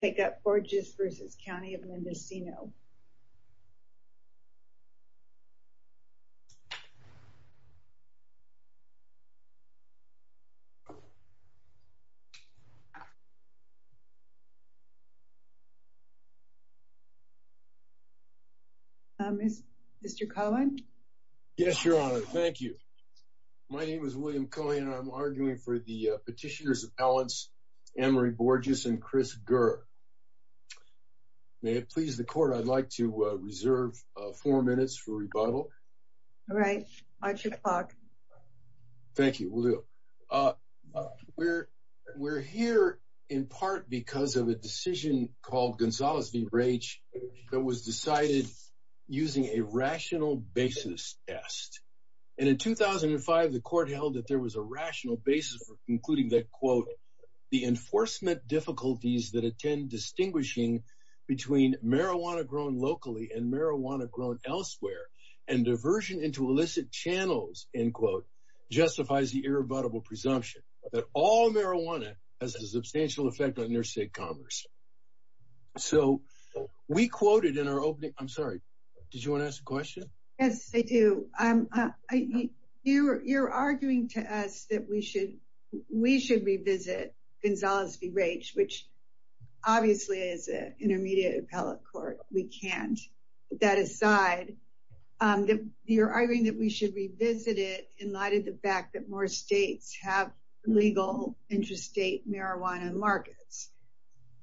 take up Borges v. County of Mendocino. Mr. Cohen. Yes, Your Honor. Thank you. My name is William Cohen. I'm arguing for the Petitioners of Balance, Ann Marie Borges and Chris Gurr. May it please the Court, I'd like to reserve four minutes for rebuttal. All right. Watch your clock. Thank you. We'll do. We're here in part because of a decision called Gonzales v. Raich that was for concluding that, quote, the enforcement difficulties that attend distinguishing between marijuana grown locally and marijuana grown elsewhere and diversion into illicit channels, end quote, justifies the irrebuttable presumption that all marijuana has a substantial effect on your state commerce. So we quoted in our opening. I'm sorry. Did you want to ask a question? Yes, I do. You're arguing to us that we should revisit Gonzales v. Raich, which obviously is an intermediate appellate court. We can't. That aside, you're arguing that we should revisit it in light of the fact that more states have legal interstate marijuana markets.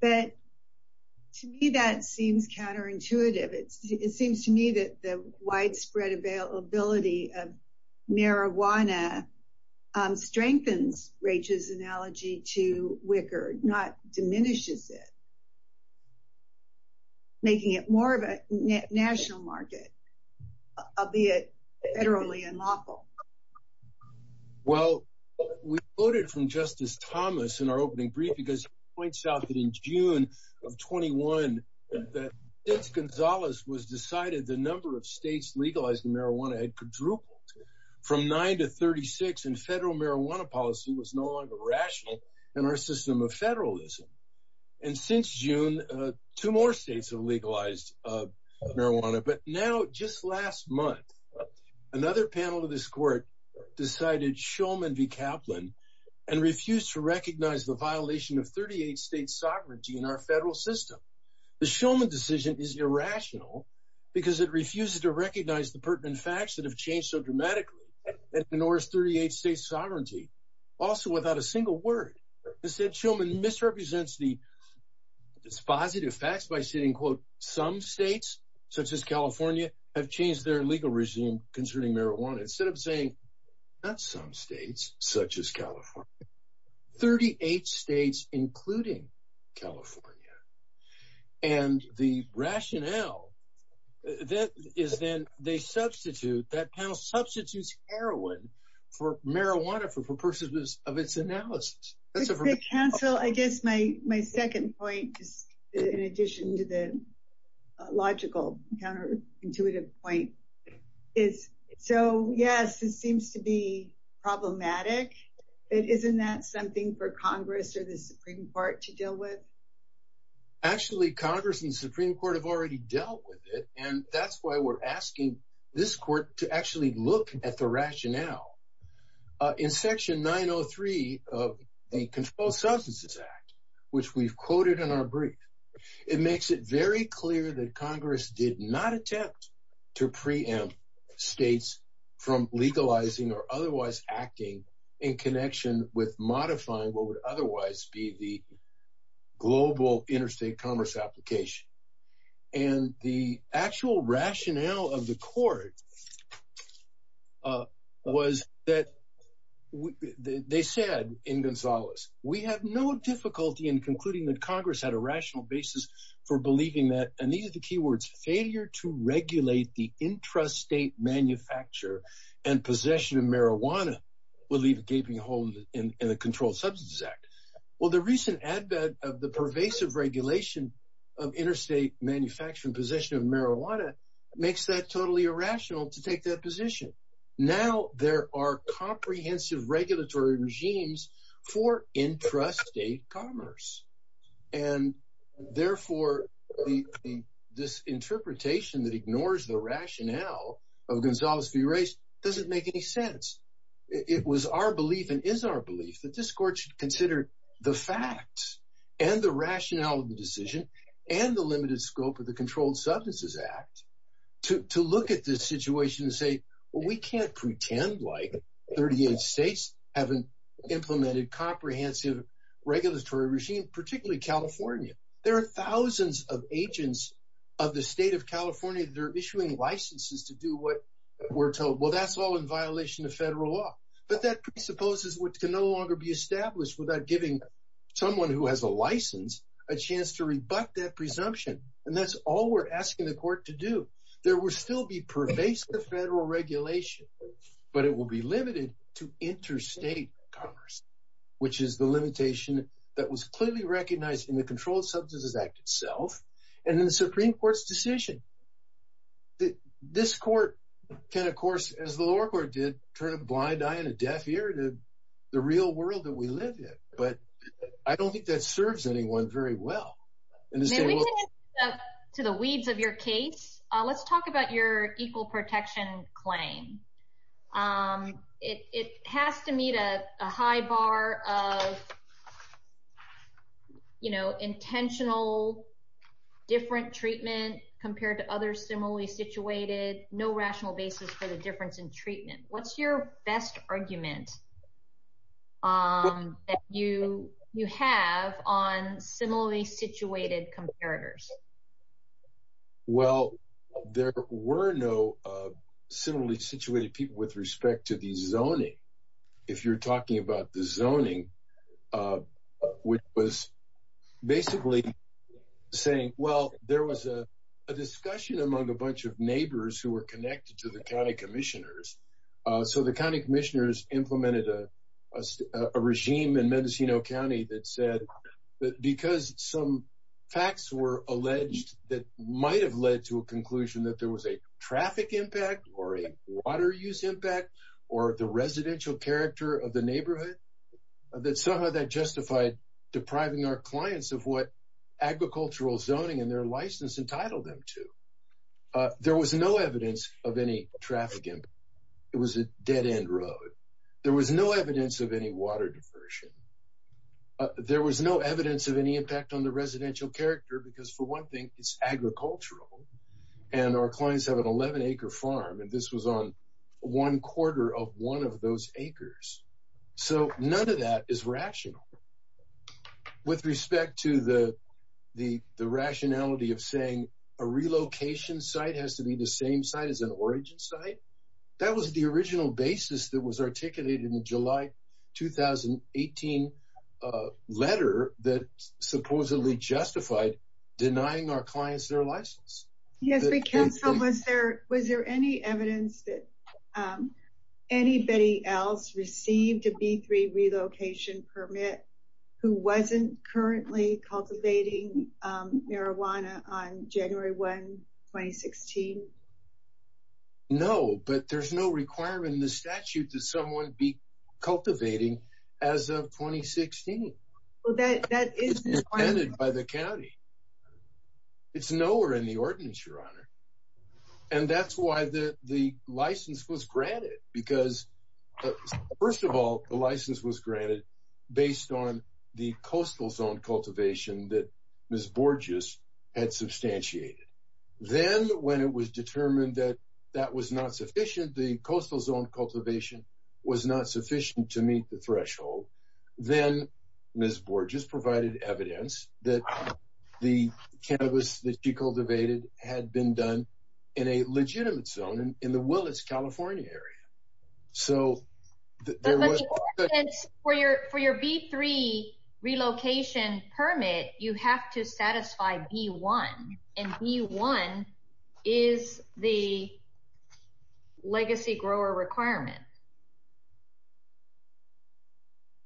But to me, that seems counterintuitive. It seems to me that the widespread availability of marijuana strengthens Raich's analogy to Wicker, not diminishes it, making it more of a national market, albeit federally unlawful. Well, we quoted from Justice Thomas in our opening brief because he points out that in June of 21, that since Gonzales was decided, the number of states legalizing marijuana had quadrupled from nine to 36. And federal marijuana policy was no longer rational in our system of federalism. And since June, two more states have legalized marijuana. But now, just last month, another panel of this court decided Shulman v. Kaplan and refused to recognize the violation of 38 states' sovereignty in our federal system. The Shulman decision is irrational because it refuses to recognize the pertinent facts that have changed so dramatically that it ignores 38 states' sovereignty, also without a single word. Instead, Shulman misrepresents the positive facts by saying, quote, some states, such as California, have changed their legal regime concerning marijuana, instead of saying, not some states, such as California, 38 states, including California. And the rationale is then they substitute, that panel substitutes heroin for marijuana for purposes of its analysis. Counsel, I guess my second point, in addition to the logical counterintuitive point, is so yes, it seems to be problematic. Isn't that something for Congress or the Supreme Court to deal with? Actually, Congress and Supreme Court have already dealt with it. And that's why we're now. In Section 903 of the Controlled Substances Act, which we've quoted in our brief, it makes it very clear that Congress did not attempt to preempt states from legalizing or otherwise acting in connection with modifying what would otherwise be the global interstate commerce application. And the actual rationale of the court was that they said in Gonzalez, we have no difficulty in concluding that Congress had a rational basis for believing that, and these are the key words, failure to regulate the intrastate manufacture and possession of marijuana will leave a gaping hole in the Controlled Substances Act. Well, the recent advent of the pervasive regulation of interstate manufacturing possession of marijuana makes that totally irrational to take that position. Now, there are comprehensive regulatory regimes for intrastate commerce. And therefore, this interpretation that ignores the rationale of Gonzalez v. Race doesn't make any sense. It was our belief and is our belief that this court should consider the facts and the rationale of the decision and the limited scope of the Controlled Substances Act to look at this we can't pretend like 38 states haven't implemented comprehensive regulatory regime, particularly California. There are thousands of agents of the state of California, they're issuing licenses to do what we're told. Well, that's all in violation of federal law. But that presupposes what can no longer be established without giving someone who has a license, a chance to rebut that presumption. And that's all we're asking the court to do. There will still be pervasive federal regulation, but it will be limited to interstate commerce, which is the limitation that was clearly recognized in the Controlled Substances Act itself. And then the Supreme Court's decision that this court can, of course, as the lower court did turn a blind eye and a deaf ear to the real world that we live in. But I don't think that talk about your equal protection claim. It has to meet a high bar of, you know, intentional, different treatment compared to other similarly situated, no rational basis for the difference in treatment. What's your best argument that you have on similarly situated comparators? Well, there were no similarly situated people with respect to the zoning. If you're talking about the zoning, which was basically saying, well, there was a discussion among a bunch of neighbors who were connected to the county commissioners. So the county commissioners implemented a regime in Mendocino County that said that because some facts were alleged that might have led to a conclusion that there was a traffic impact or a water use impact or the residential character of the neighborhood, that somehow that justified depriving our clients of what agricultural zoning and their license entitled them to. There was no evidence of any traffic. It was a dead end road. There was no evidence of any water diversion. There was no evidence of any impact on the residential character, because for one thing, it's agricultural. And our clients have an 11 acre farm, and this was on one quarter of one of those acres. So none of that is rational. With respect to the That was the original basis that was articulated in the July 2018 letter that supposedly justified denying our clients their license. Yes, but Council, was there any evidence that anybody else received a B3 relocation permit who wasn't currently cultivating marijuana on January 1, 2016? No, but there's no requirement in the statute that someone be cultivating as of 2016. Well, that is intended by the county. It's nowhere in the ordinance, Your Honor. And that's why the license was granted, because first of all, the license was granted based on the coastal zone cultivation that Ms. Borges had substantiated. Then when it was determined that that was not sufficient, the coastal zone cultivation was not sufficient to meet the threshold, then Ms. Borges provided evidence that the cannabis that she cultivated had been done in a legitimate zone in the Willis, California area. For your B3 relocation permit, you have to satisfy B1, and B1 is the legacy grower requirement.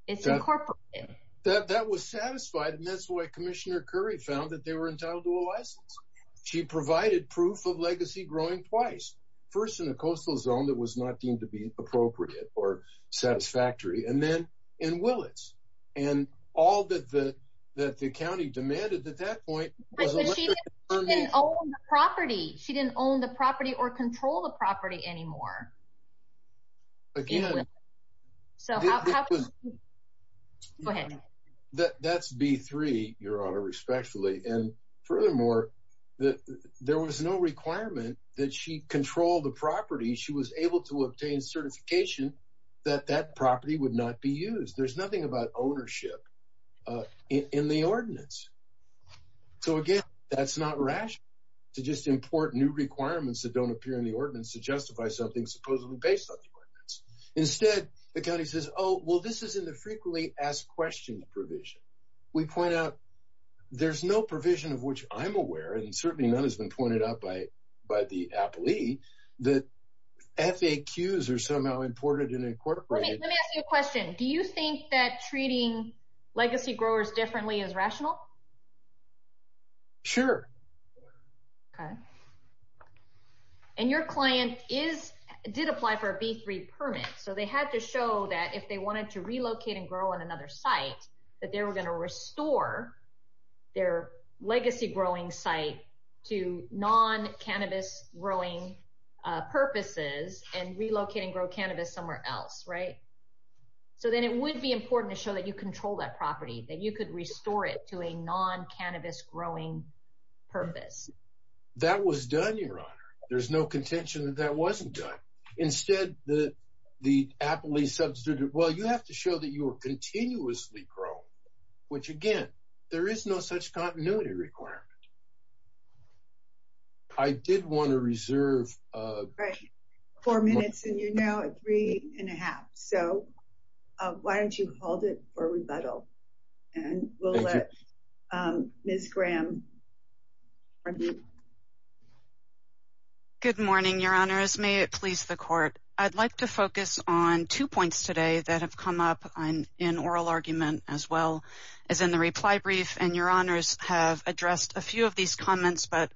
It's incorporated. That was satisfied, and that's why Commissioner Curry found that they were entitled to a license. She provided proof of legacy growing twice, first in a coastal zone that was not deemed to be appropriate or satisfactory, and then in Willis. And all that the county demanded at that point... But she didn't own the property. She didn't own the property or control the property anymore. Again... So how... Go ahead. That's B3, Your Honor, respectfully. And furthermore, there was no requirement that she control the property. She was able to obtain certification that that property would not be used. There's nothing about ownership in the ordinance. So again, that's not rational to just import new requirements that don't appear in the ordinance to justify something supposedly based on the ordinance. Instead, the county says, oh, well, this is in the frequently asked questions provision. We point out there's no provision of which I'm aware, and certainly none has been pointed out by the appellee, that FAQs are somehow imported and incorporated. Let me ask you a question. Do you think that treating legacy growers differently is rational? Sure. Okay. And your client did apply for a B3 permit, so they had to show that if they wanted to relocate and grow on another site, that they were going to restore their legacy growing site to non-cannabis growing purposes and relocate and grow cannabis somewhere else, right? So then it would be important to show that you control that property, that you could restore it to a non-cannabis growing purpose. That was done, Your Honor. There's no contention that that wasn't done. Instead, the appellee substituted, well, you have to show that you're continuously growing, which again, there is no such continuity requirement. I did want to reserve... Four minutes, and you're now at three and a half. So why don't you hold it for rebuttal? And we'll let Ms. Graham... Good morning, Your Honors. May it please the court. I'd like to focus on two points today that have come up in oral argument as well as in the reply brief, and Your Honors have addressed a few of these comments, but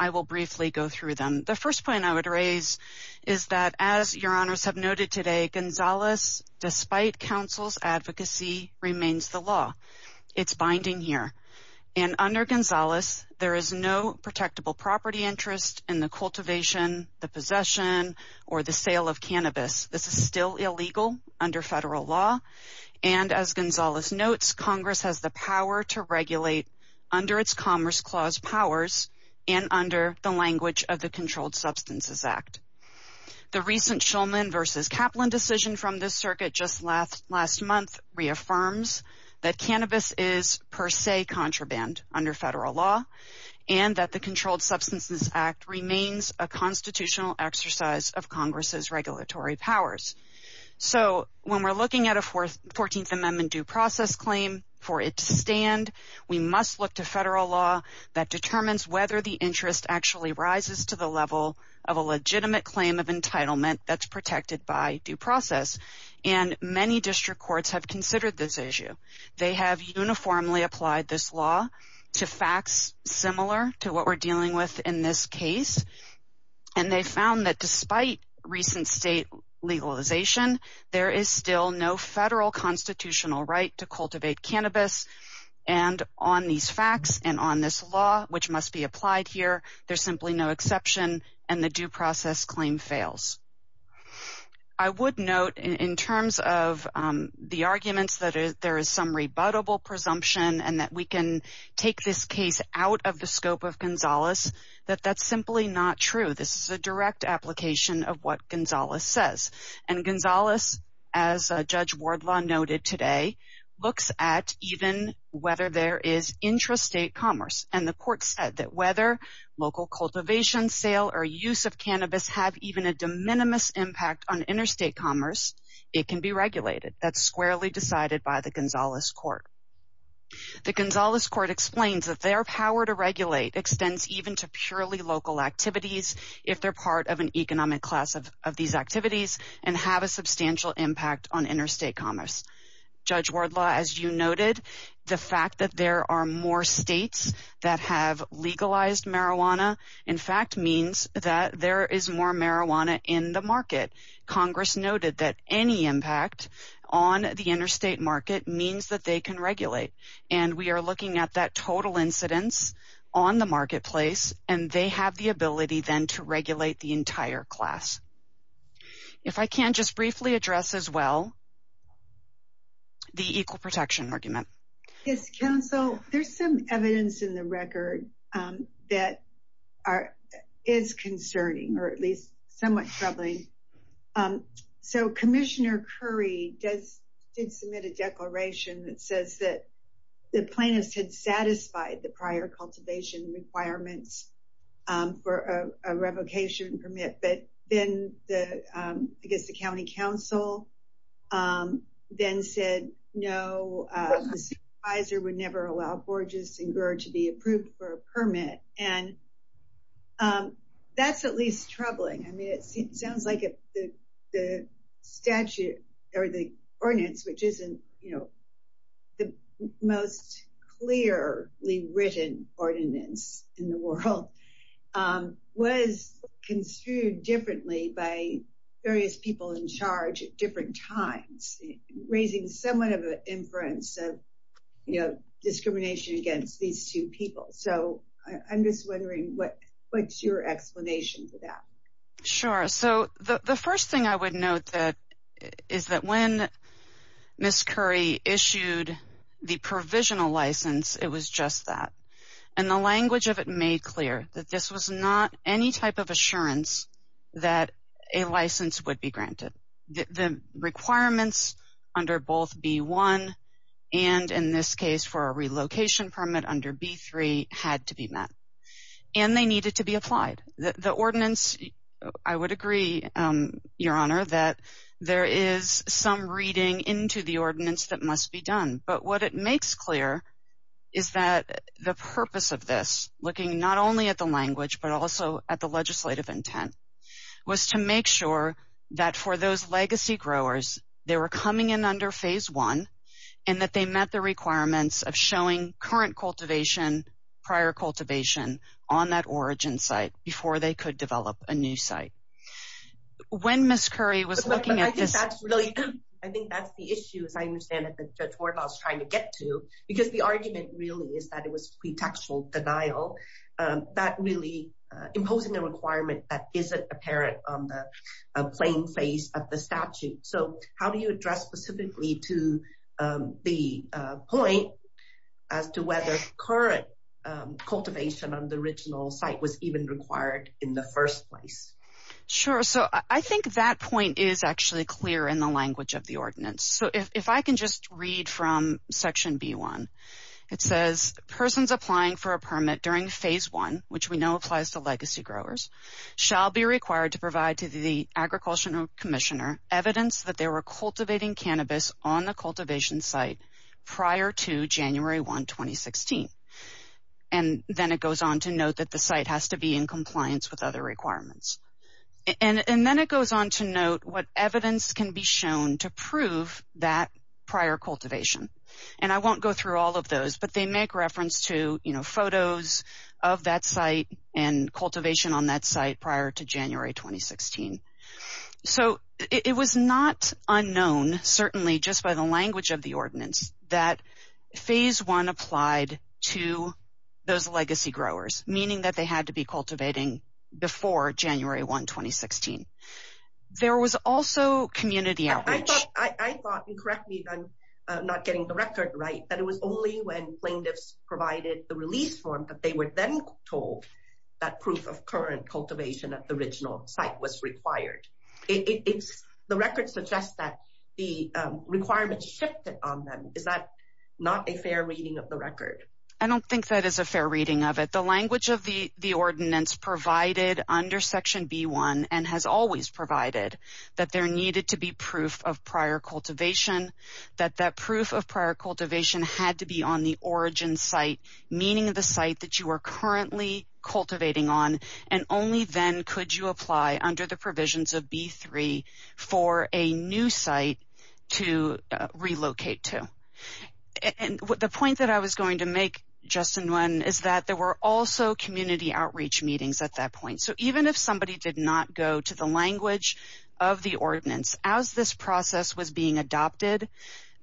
I will briefly go through them. The first point I would raise is that as Your Honors have noted today, Gonzales, despite counsel's advocacy, remains the law. It's binding here. And under Gonzales, there is no protectable property interest in the federal law. And as Gonzales notes, Congress has the power to regulate under its Commerce Clause powers and under the language of the Controlled Substances Act. The recent Shulman v. Kaplan decision from this circuit just last month reaffirms that cannabis is per se contraband under federal law and that the Controlled Substances Act remains a constitutional exercise of Congress's regulatory powers. So when we're looking at a Fourteenth Amendment due process claim, for it to stand, we must look to federal law that determines whether the interest actually rises to the level of a legitimate claim of entitlement that's protected by due process. And many district courts have considered this issue. They have uniformly applied this law to facts similar to what we're dealing with in this case. And they found that despite recent state legalization, there is still no federal constitutional right to cultivate cannabis. And on these facts and on this law, which must be applied here, there's simply no exception, and the due process claim fails. I would note in terms of the arguments that there is some rebuttable presumption and that we can take this case out of the scope of Gonzalez, that that's simply not true. This is a direct application of what Gonzalez says. And Gonzalez, as Judge Wardlaw noted today, looks at even whether there is intrastate commerce. And the court said that whether local cultivation, sale, or use of cannabis have even a de minimis impact on interstate commerce, it can be regulated. That's squarely decided by the Gonzalez court. The Gonzalez court explains that their power to regulate extends even to purely local activities if they're part of an economic class of these activities and have a substantial impact on interstate commerce. Judge Wardlaw, as you noted, the fact that there are more states that have Congress noted that any impact on the interstate market means that they can regulate. And we are looking at that total incidence on the marketplace, and they have the ability then to regulate the entire class. If I can just briefly address as well, the equal protection argument. Yes, counsel, there's some evidence in the record that is concerning, or at least somewhat troubling. So Commissioner Curry did submit a declaration that says that the plaintiffs had satisfied the prior cultivation requirements for a revocation permit. But then I guess the county council then said, no, the Supervisor would never allow Borges and Grer to be approved for a permit. And that's at least troubling. I mean, it sounds like the statute or the ordinance, which isn't, you know, the most clearly written ordinance in the world, was construed differently by various people in charge at different times, raising somewhat of an inference of, you know, what's your explanation for that? Sure. So the first thing I would note is that when Ms. Curry issued the provisional license, it was just that. And the language of it made clear that this was not any type of assurance that a license would be granted. The requirements under both B-1 and in this case for a relocation permit under B-3 had to be met. And they needed to be applied. The ordinance, I would agree, Your Honor, that there is some reading into the ordinance that must be done. But what it makes clear is that the purpose of this, looking not only at the language, but also at the legislative intent, was to make sure that for those legacy growers, they were coming in under phase one, and that they met the requirements of showing current cultivation, prior cultivation on that origin site before they could develop a new site. When Ms. Curry was looking at this... I think that's the issue, as I understand it, that Judge Wardlaw is trying to get to. Because the argument really is that it was pretextual denial, that really imposing a requirement that isn't apparent on the plain face of the statute. So how do you address specifically to the point as to whether current cultivation on the original site was even required in the first place? Sure. So I think that point is actually clear in the language of the ordinance. So if I can just read from section B-1, it says, persons applying for a permit during phase one, which we know applies to legacy growers, shall be required to provide to the Agricultural Commissioner evidence that they were cultivating cannabis on the cultivation site prior to January 1, 2016. And then it goes on to note that the site has to be in compliance with other requirements. And then it goes on to note what evidence can be shown to prove that prior cultivation. And I won't go through all of those, but they make photos of that site and cultivation on that site prior to January 2016. So it was not unknown, certainly just by the language of the ordinance, that phase one applied to those legacy growers, meaning that they had to be cultivating before January 1, 2016. There was also community outreach. I thought, and correct me if I'm not getting the record right, that it was only when plaintiffs provided the release form that they were then told that proof of current cultivation at the original site was required. The record suggests that the requirements shifted on them. Is that not a fair reading of the record? I don't think that is a fair reading of it. The language of the ordinance provided under section B-1, and has always provided, that there needed to be proof of origin site, meaning the site that you are currently cultivating on, and only then could you apply under the provisions of B-3 for a new site to relocate to. And the point that I was going to make, Justin, is that there were also community outreach meetings at that point. So even if somebody did not go to the language of the ordinance, as this process was being adopted,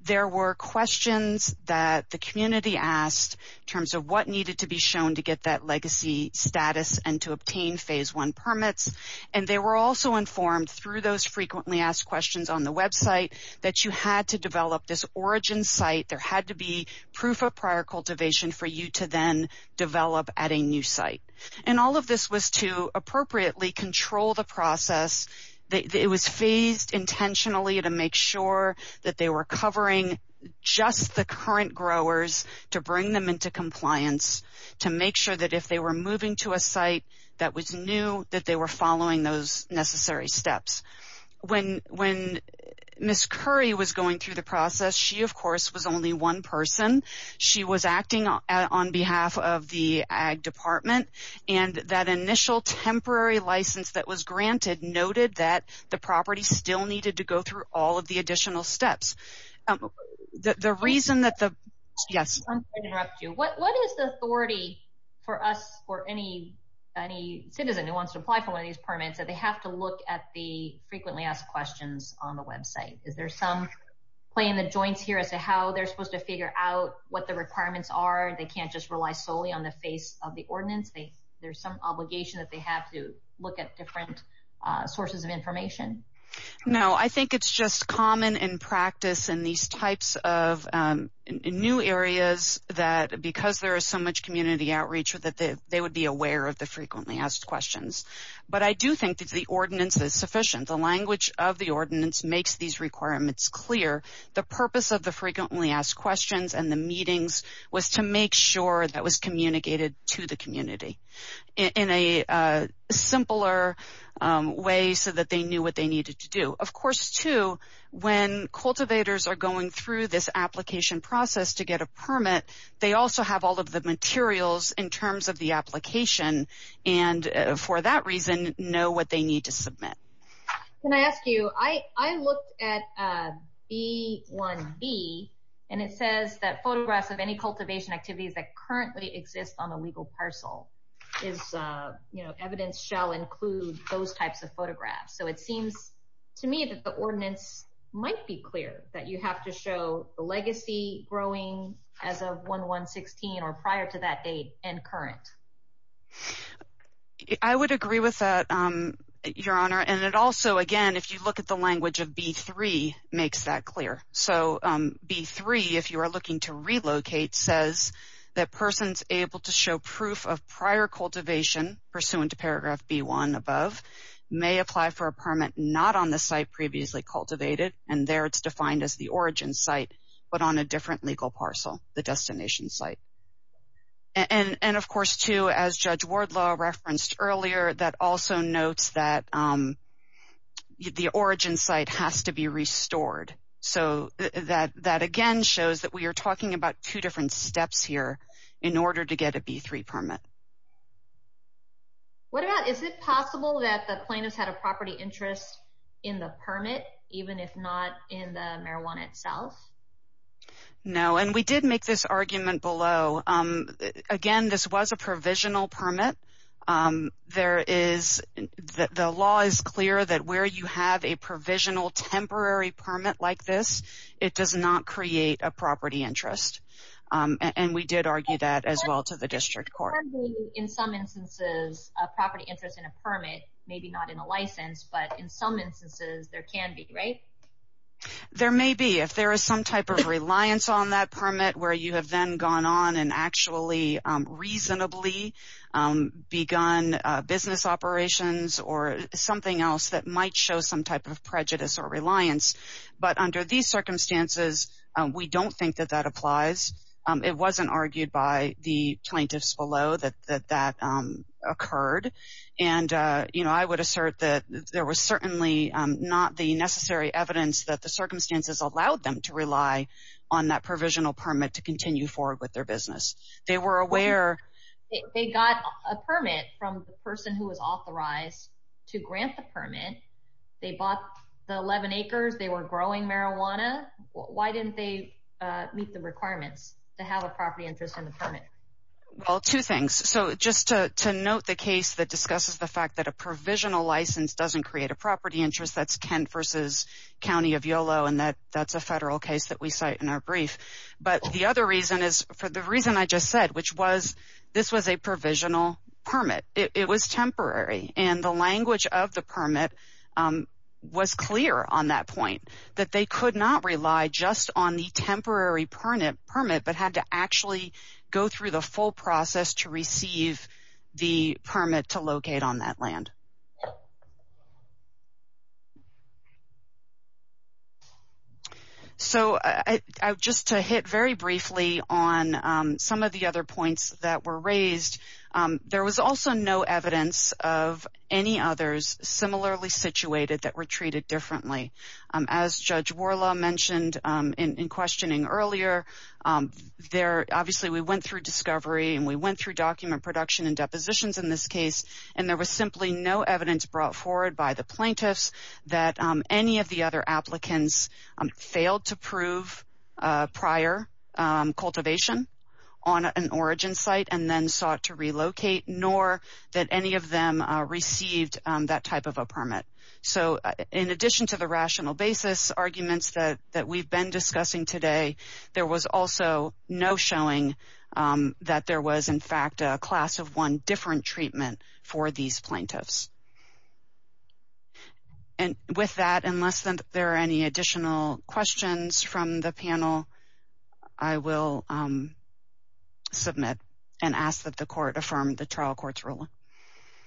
there were questions that the community asked in terms of what needed to be shown to get that legacy status and to obtain phase one permits. And they were also informed through those frequently asked questions on the website that you had to develop this origin site. There had to be proof of prior cultivation for you to then develop at a new site. And all of this was to appropriately control the process. It was phased intentionally to make sure that they were covering just the current growers to bring them into compliance, to make sure that if they were moving to a site that was new, that they were following those necessary steps. When Miss Curry was going through the process, she of course was only one person. She was acting on behalf of the Ag Department. And that initial temporary license that was granted noted that the property still needed to go through all of the additional steps. The reason that the... Yes. I'm going to interrupt you. What is the authority for us or any citizen who wants to apply for one of these permits that they have to look at the frequently asked questions on the website? Is there some play in the joints here as to how they're supposed to figure out what the requirements are? They can't just rely solely on the face of the ordinance. There's some obligation that they have to look at different sources of information. No, I think it's just common in practice in these types of new areas that because there is so much community outreach that they would be aware of the frequently asked questions. But I do think that the ordinance is sufficient. The language of the ordinance makes these requirements clear. The purpose of the frequently asked questions and the meetings was to make sure that was communicated to the community in a simpler way so that they knew what they needed to do. Of course, too, when cultivators are going through this application process to get a permit, they also have all of the materials in terms of the application and for that reason know what they need to submit. Can I ask you, I looked at B1B and it says that photographs of any cultivation activities that currently exist on a legal parcel is evidence shall include those types of photographs. So it seems to me that the ordinance might be clear that you have to show the legacy growing as of 1-1-16 or prior to that date and current. I would agree with that, Your Honor. And it also, again, if you look at the language of B3 makes that clear. So B3, if you are looking to relocate, says that persons able to show proof of prior cultivation pursuant to paragraph B1 above may apply for a permit not on the site previously cultivated and there it's defined as the origin site but on a different legal parcel, the destination site. And of course, too, as Judge Wardlaw referenced earlier, that also notes that the origin site has to be restored. So that again shows that we are talking about two different steps here in order to get a B3 permit. What about, is it possible that the plaintiff had a property interest in the permit even if not in the marijuana itself? No, and we did make this clear that where you have a provisional temporary permit like this, it does not create a property interest. And we did argue that as well to the district court. In some instances, a property interest in a permit, maybe not in a license, but in some instances there can be, right? There may be if there is some type of reliance on that permit where you have then gone on and reasonably begun business operations or something else that might show some type of prejudice or reliance. But under these circumstances, we don't think that that applies. It wasn't argued by the plaintiffs below that that occurred. And I would assert that there was certainly not the necessary evidence that the circumstances allowed them to rely on that provisional permit to continue forward with their business. They were aware. They got a permit from the person who was authorized to grant the permit. They bought the 11 acres. They were growing marijuana. Why didn't they meet the requirements to have a property interest in the permit? Well, two things. So just to note the case that discusses the fact that a provisional license doesn't create a property interest, that's Kent versus County of Yolo, and that's a federal case that we cite in our brief. But the other reason is for the reason I just said, which was this was a provisional permit. It was temporary and the language of the permit was clear on that point that they could not rely just on the temporary permit, but had to actually go through the full process to receive the permit to locate on that land. So just to hit very briefly on some of the other points that were raised, there was also no evidence of any others similarly situated that were treated differently. As Judge Worla mentioned in questioning earlier, there obviously we went through discovery and we went through document production and there was no evidence brought forward by the plaintiffs that any of the other applicants failed to prove prior cultivation on an origin site and then sought to relocate, nor that any of them received that type of a permit. So in addition to the rational basis arguments that that we've been discussing today, there was also no showing that there was in fact a class of one different treatment for these plaintiffs. And with that, unless there are any additional questions from the panel, I will submit and ask that the court affirm the trial court's ruling.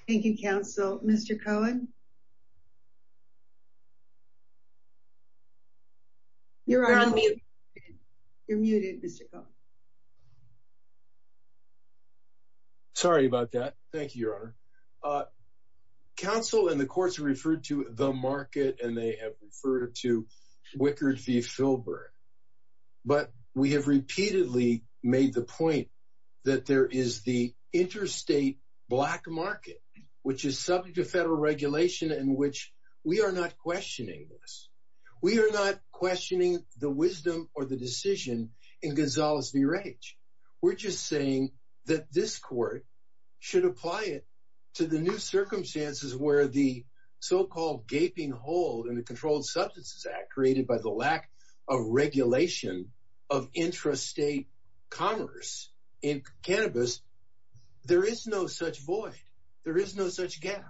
Thank you, counsel. Mr. Cohen? You're on mute. You're muted, Mr. Cohen. Sorry about that. Thank you, Your Honor. Council and the courts referred to the market and they have referred to Wickard v. Filburn, but we have repeatedly made the point that there is the in which we are not questioning this. We are not questioning the wisdom or the decision in Gonzalez v. Rage. We're just saying that this court should apply it to the new circumstances where the so-called gaping hole in the Controlled Substances Act created by the lack of regulation of intrastate commerce in cannabis. There is no such void. There is no such gap.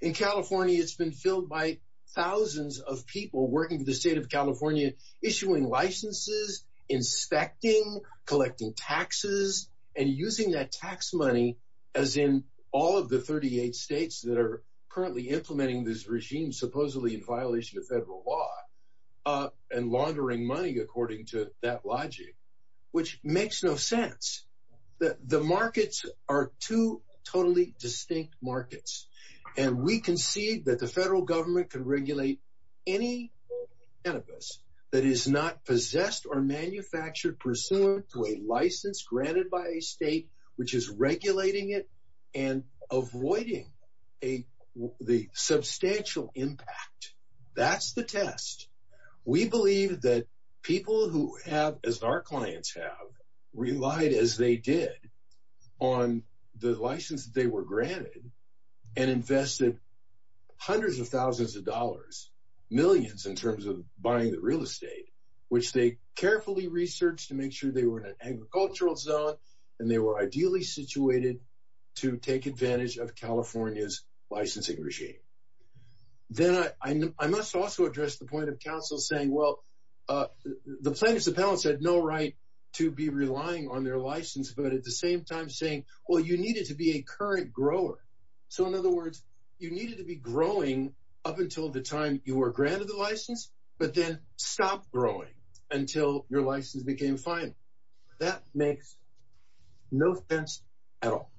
In California, it's been filled by thousands of people working for the state of California, issuing licenses, inspecting, collecting taxes, and using that tax money as in all of the 38 states that are currently implementing this regime, supposedly in violation of federal law, and laundering money according to that logic, which makes no sense. The markets are two totally distinct markets, and we concede that the federal government can regulate any cannabis that is not possessed or manufactured pursuant to a license granted by a state which is regulating it and avoiding the substantial impact. That's the test. We believe that people who have, as our clients have, relied as they did on the license that they were granted and invested hundreds of thousands of dollars, millions in terms of buying the real estate, which they carefully researched to make sure they were in an agricultural zone, and they were ideally situated to take advantage of California's licensing regime. I must also address the point of counsel saying, well, the plaintiffs' appellants had no right to be relying on their license, but at the same time saying, well, you needed to be a current grower. In other words, you needed to be growing up until the time you were granted the license, but then stop growing until your license became final. That makes no sense at all,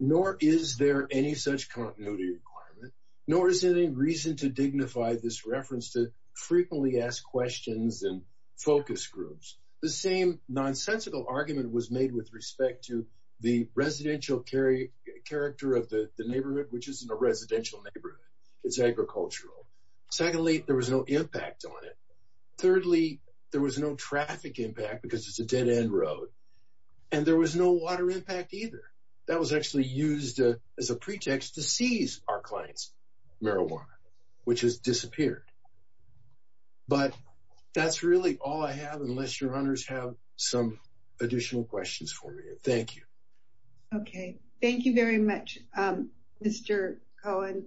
nor is there any such continuity requirement, nor is there any reason to dignify this reference to frequently asked questions and focus groups. The same nonsensical argument was made with respect to the residential character of the neighborhood, which isn't a residential neighborhood. It's agricultural. Secondly, there was no impact on it. Thirdly, there was no traffic impact because it's a dead-end road, and there was no water impact either. That was actually used as a pretext to seize our client's marijuana, which has disappeared. But that's really all I have, unless your owners have some additional questions for me. Thank you. Okay. Thank you very much, Mr. Cohen.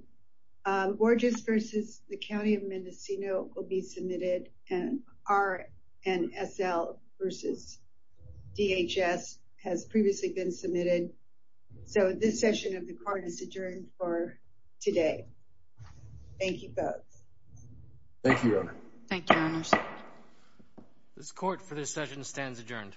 Borges v. The County of Mendocino will be submitted, and RNSL v. DHS has previously been submitted. So this session of the Court is adjourned for today. Thank you both. Thank you, Your Honor. Thank you, Your Honor. This Court for this session stands adjourned.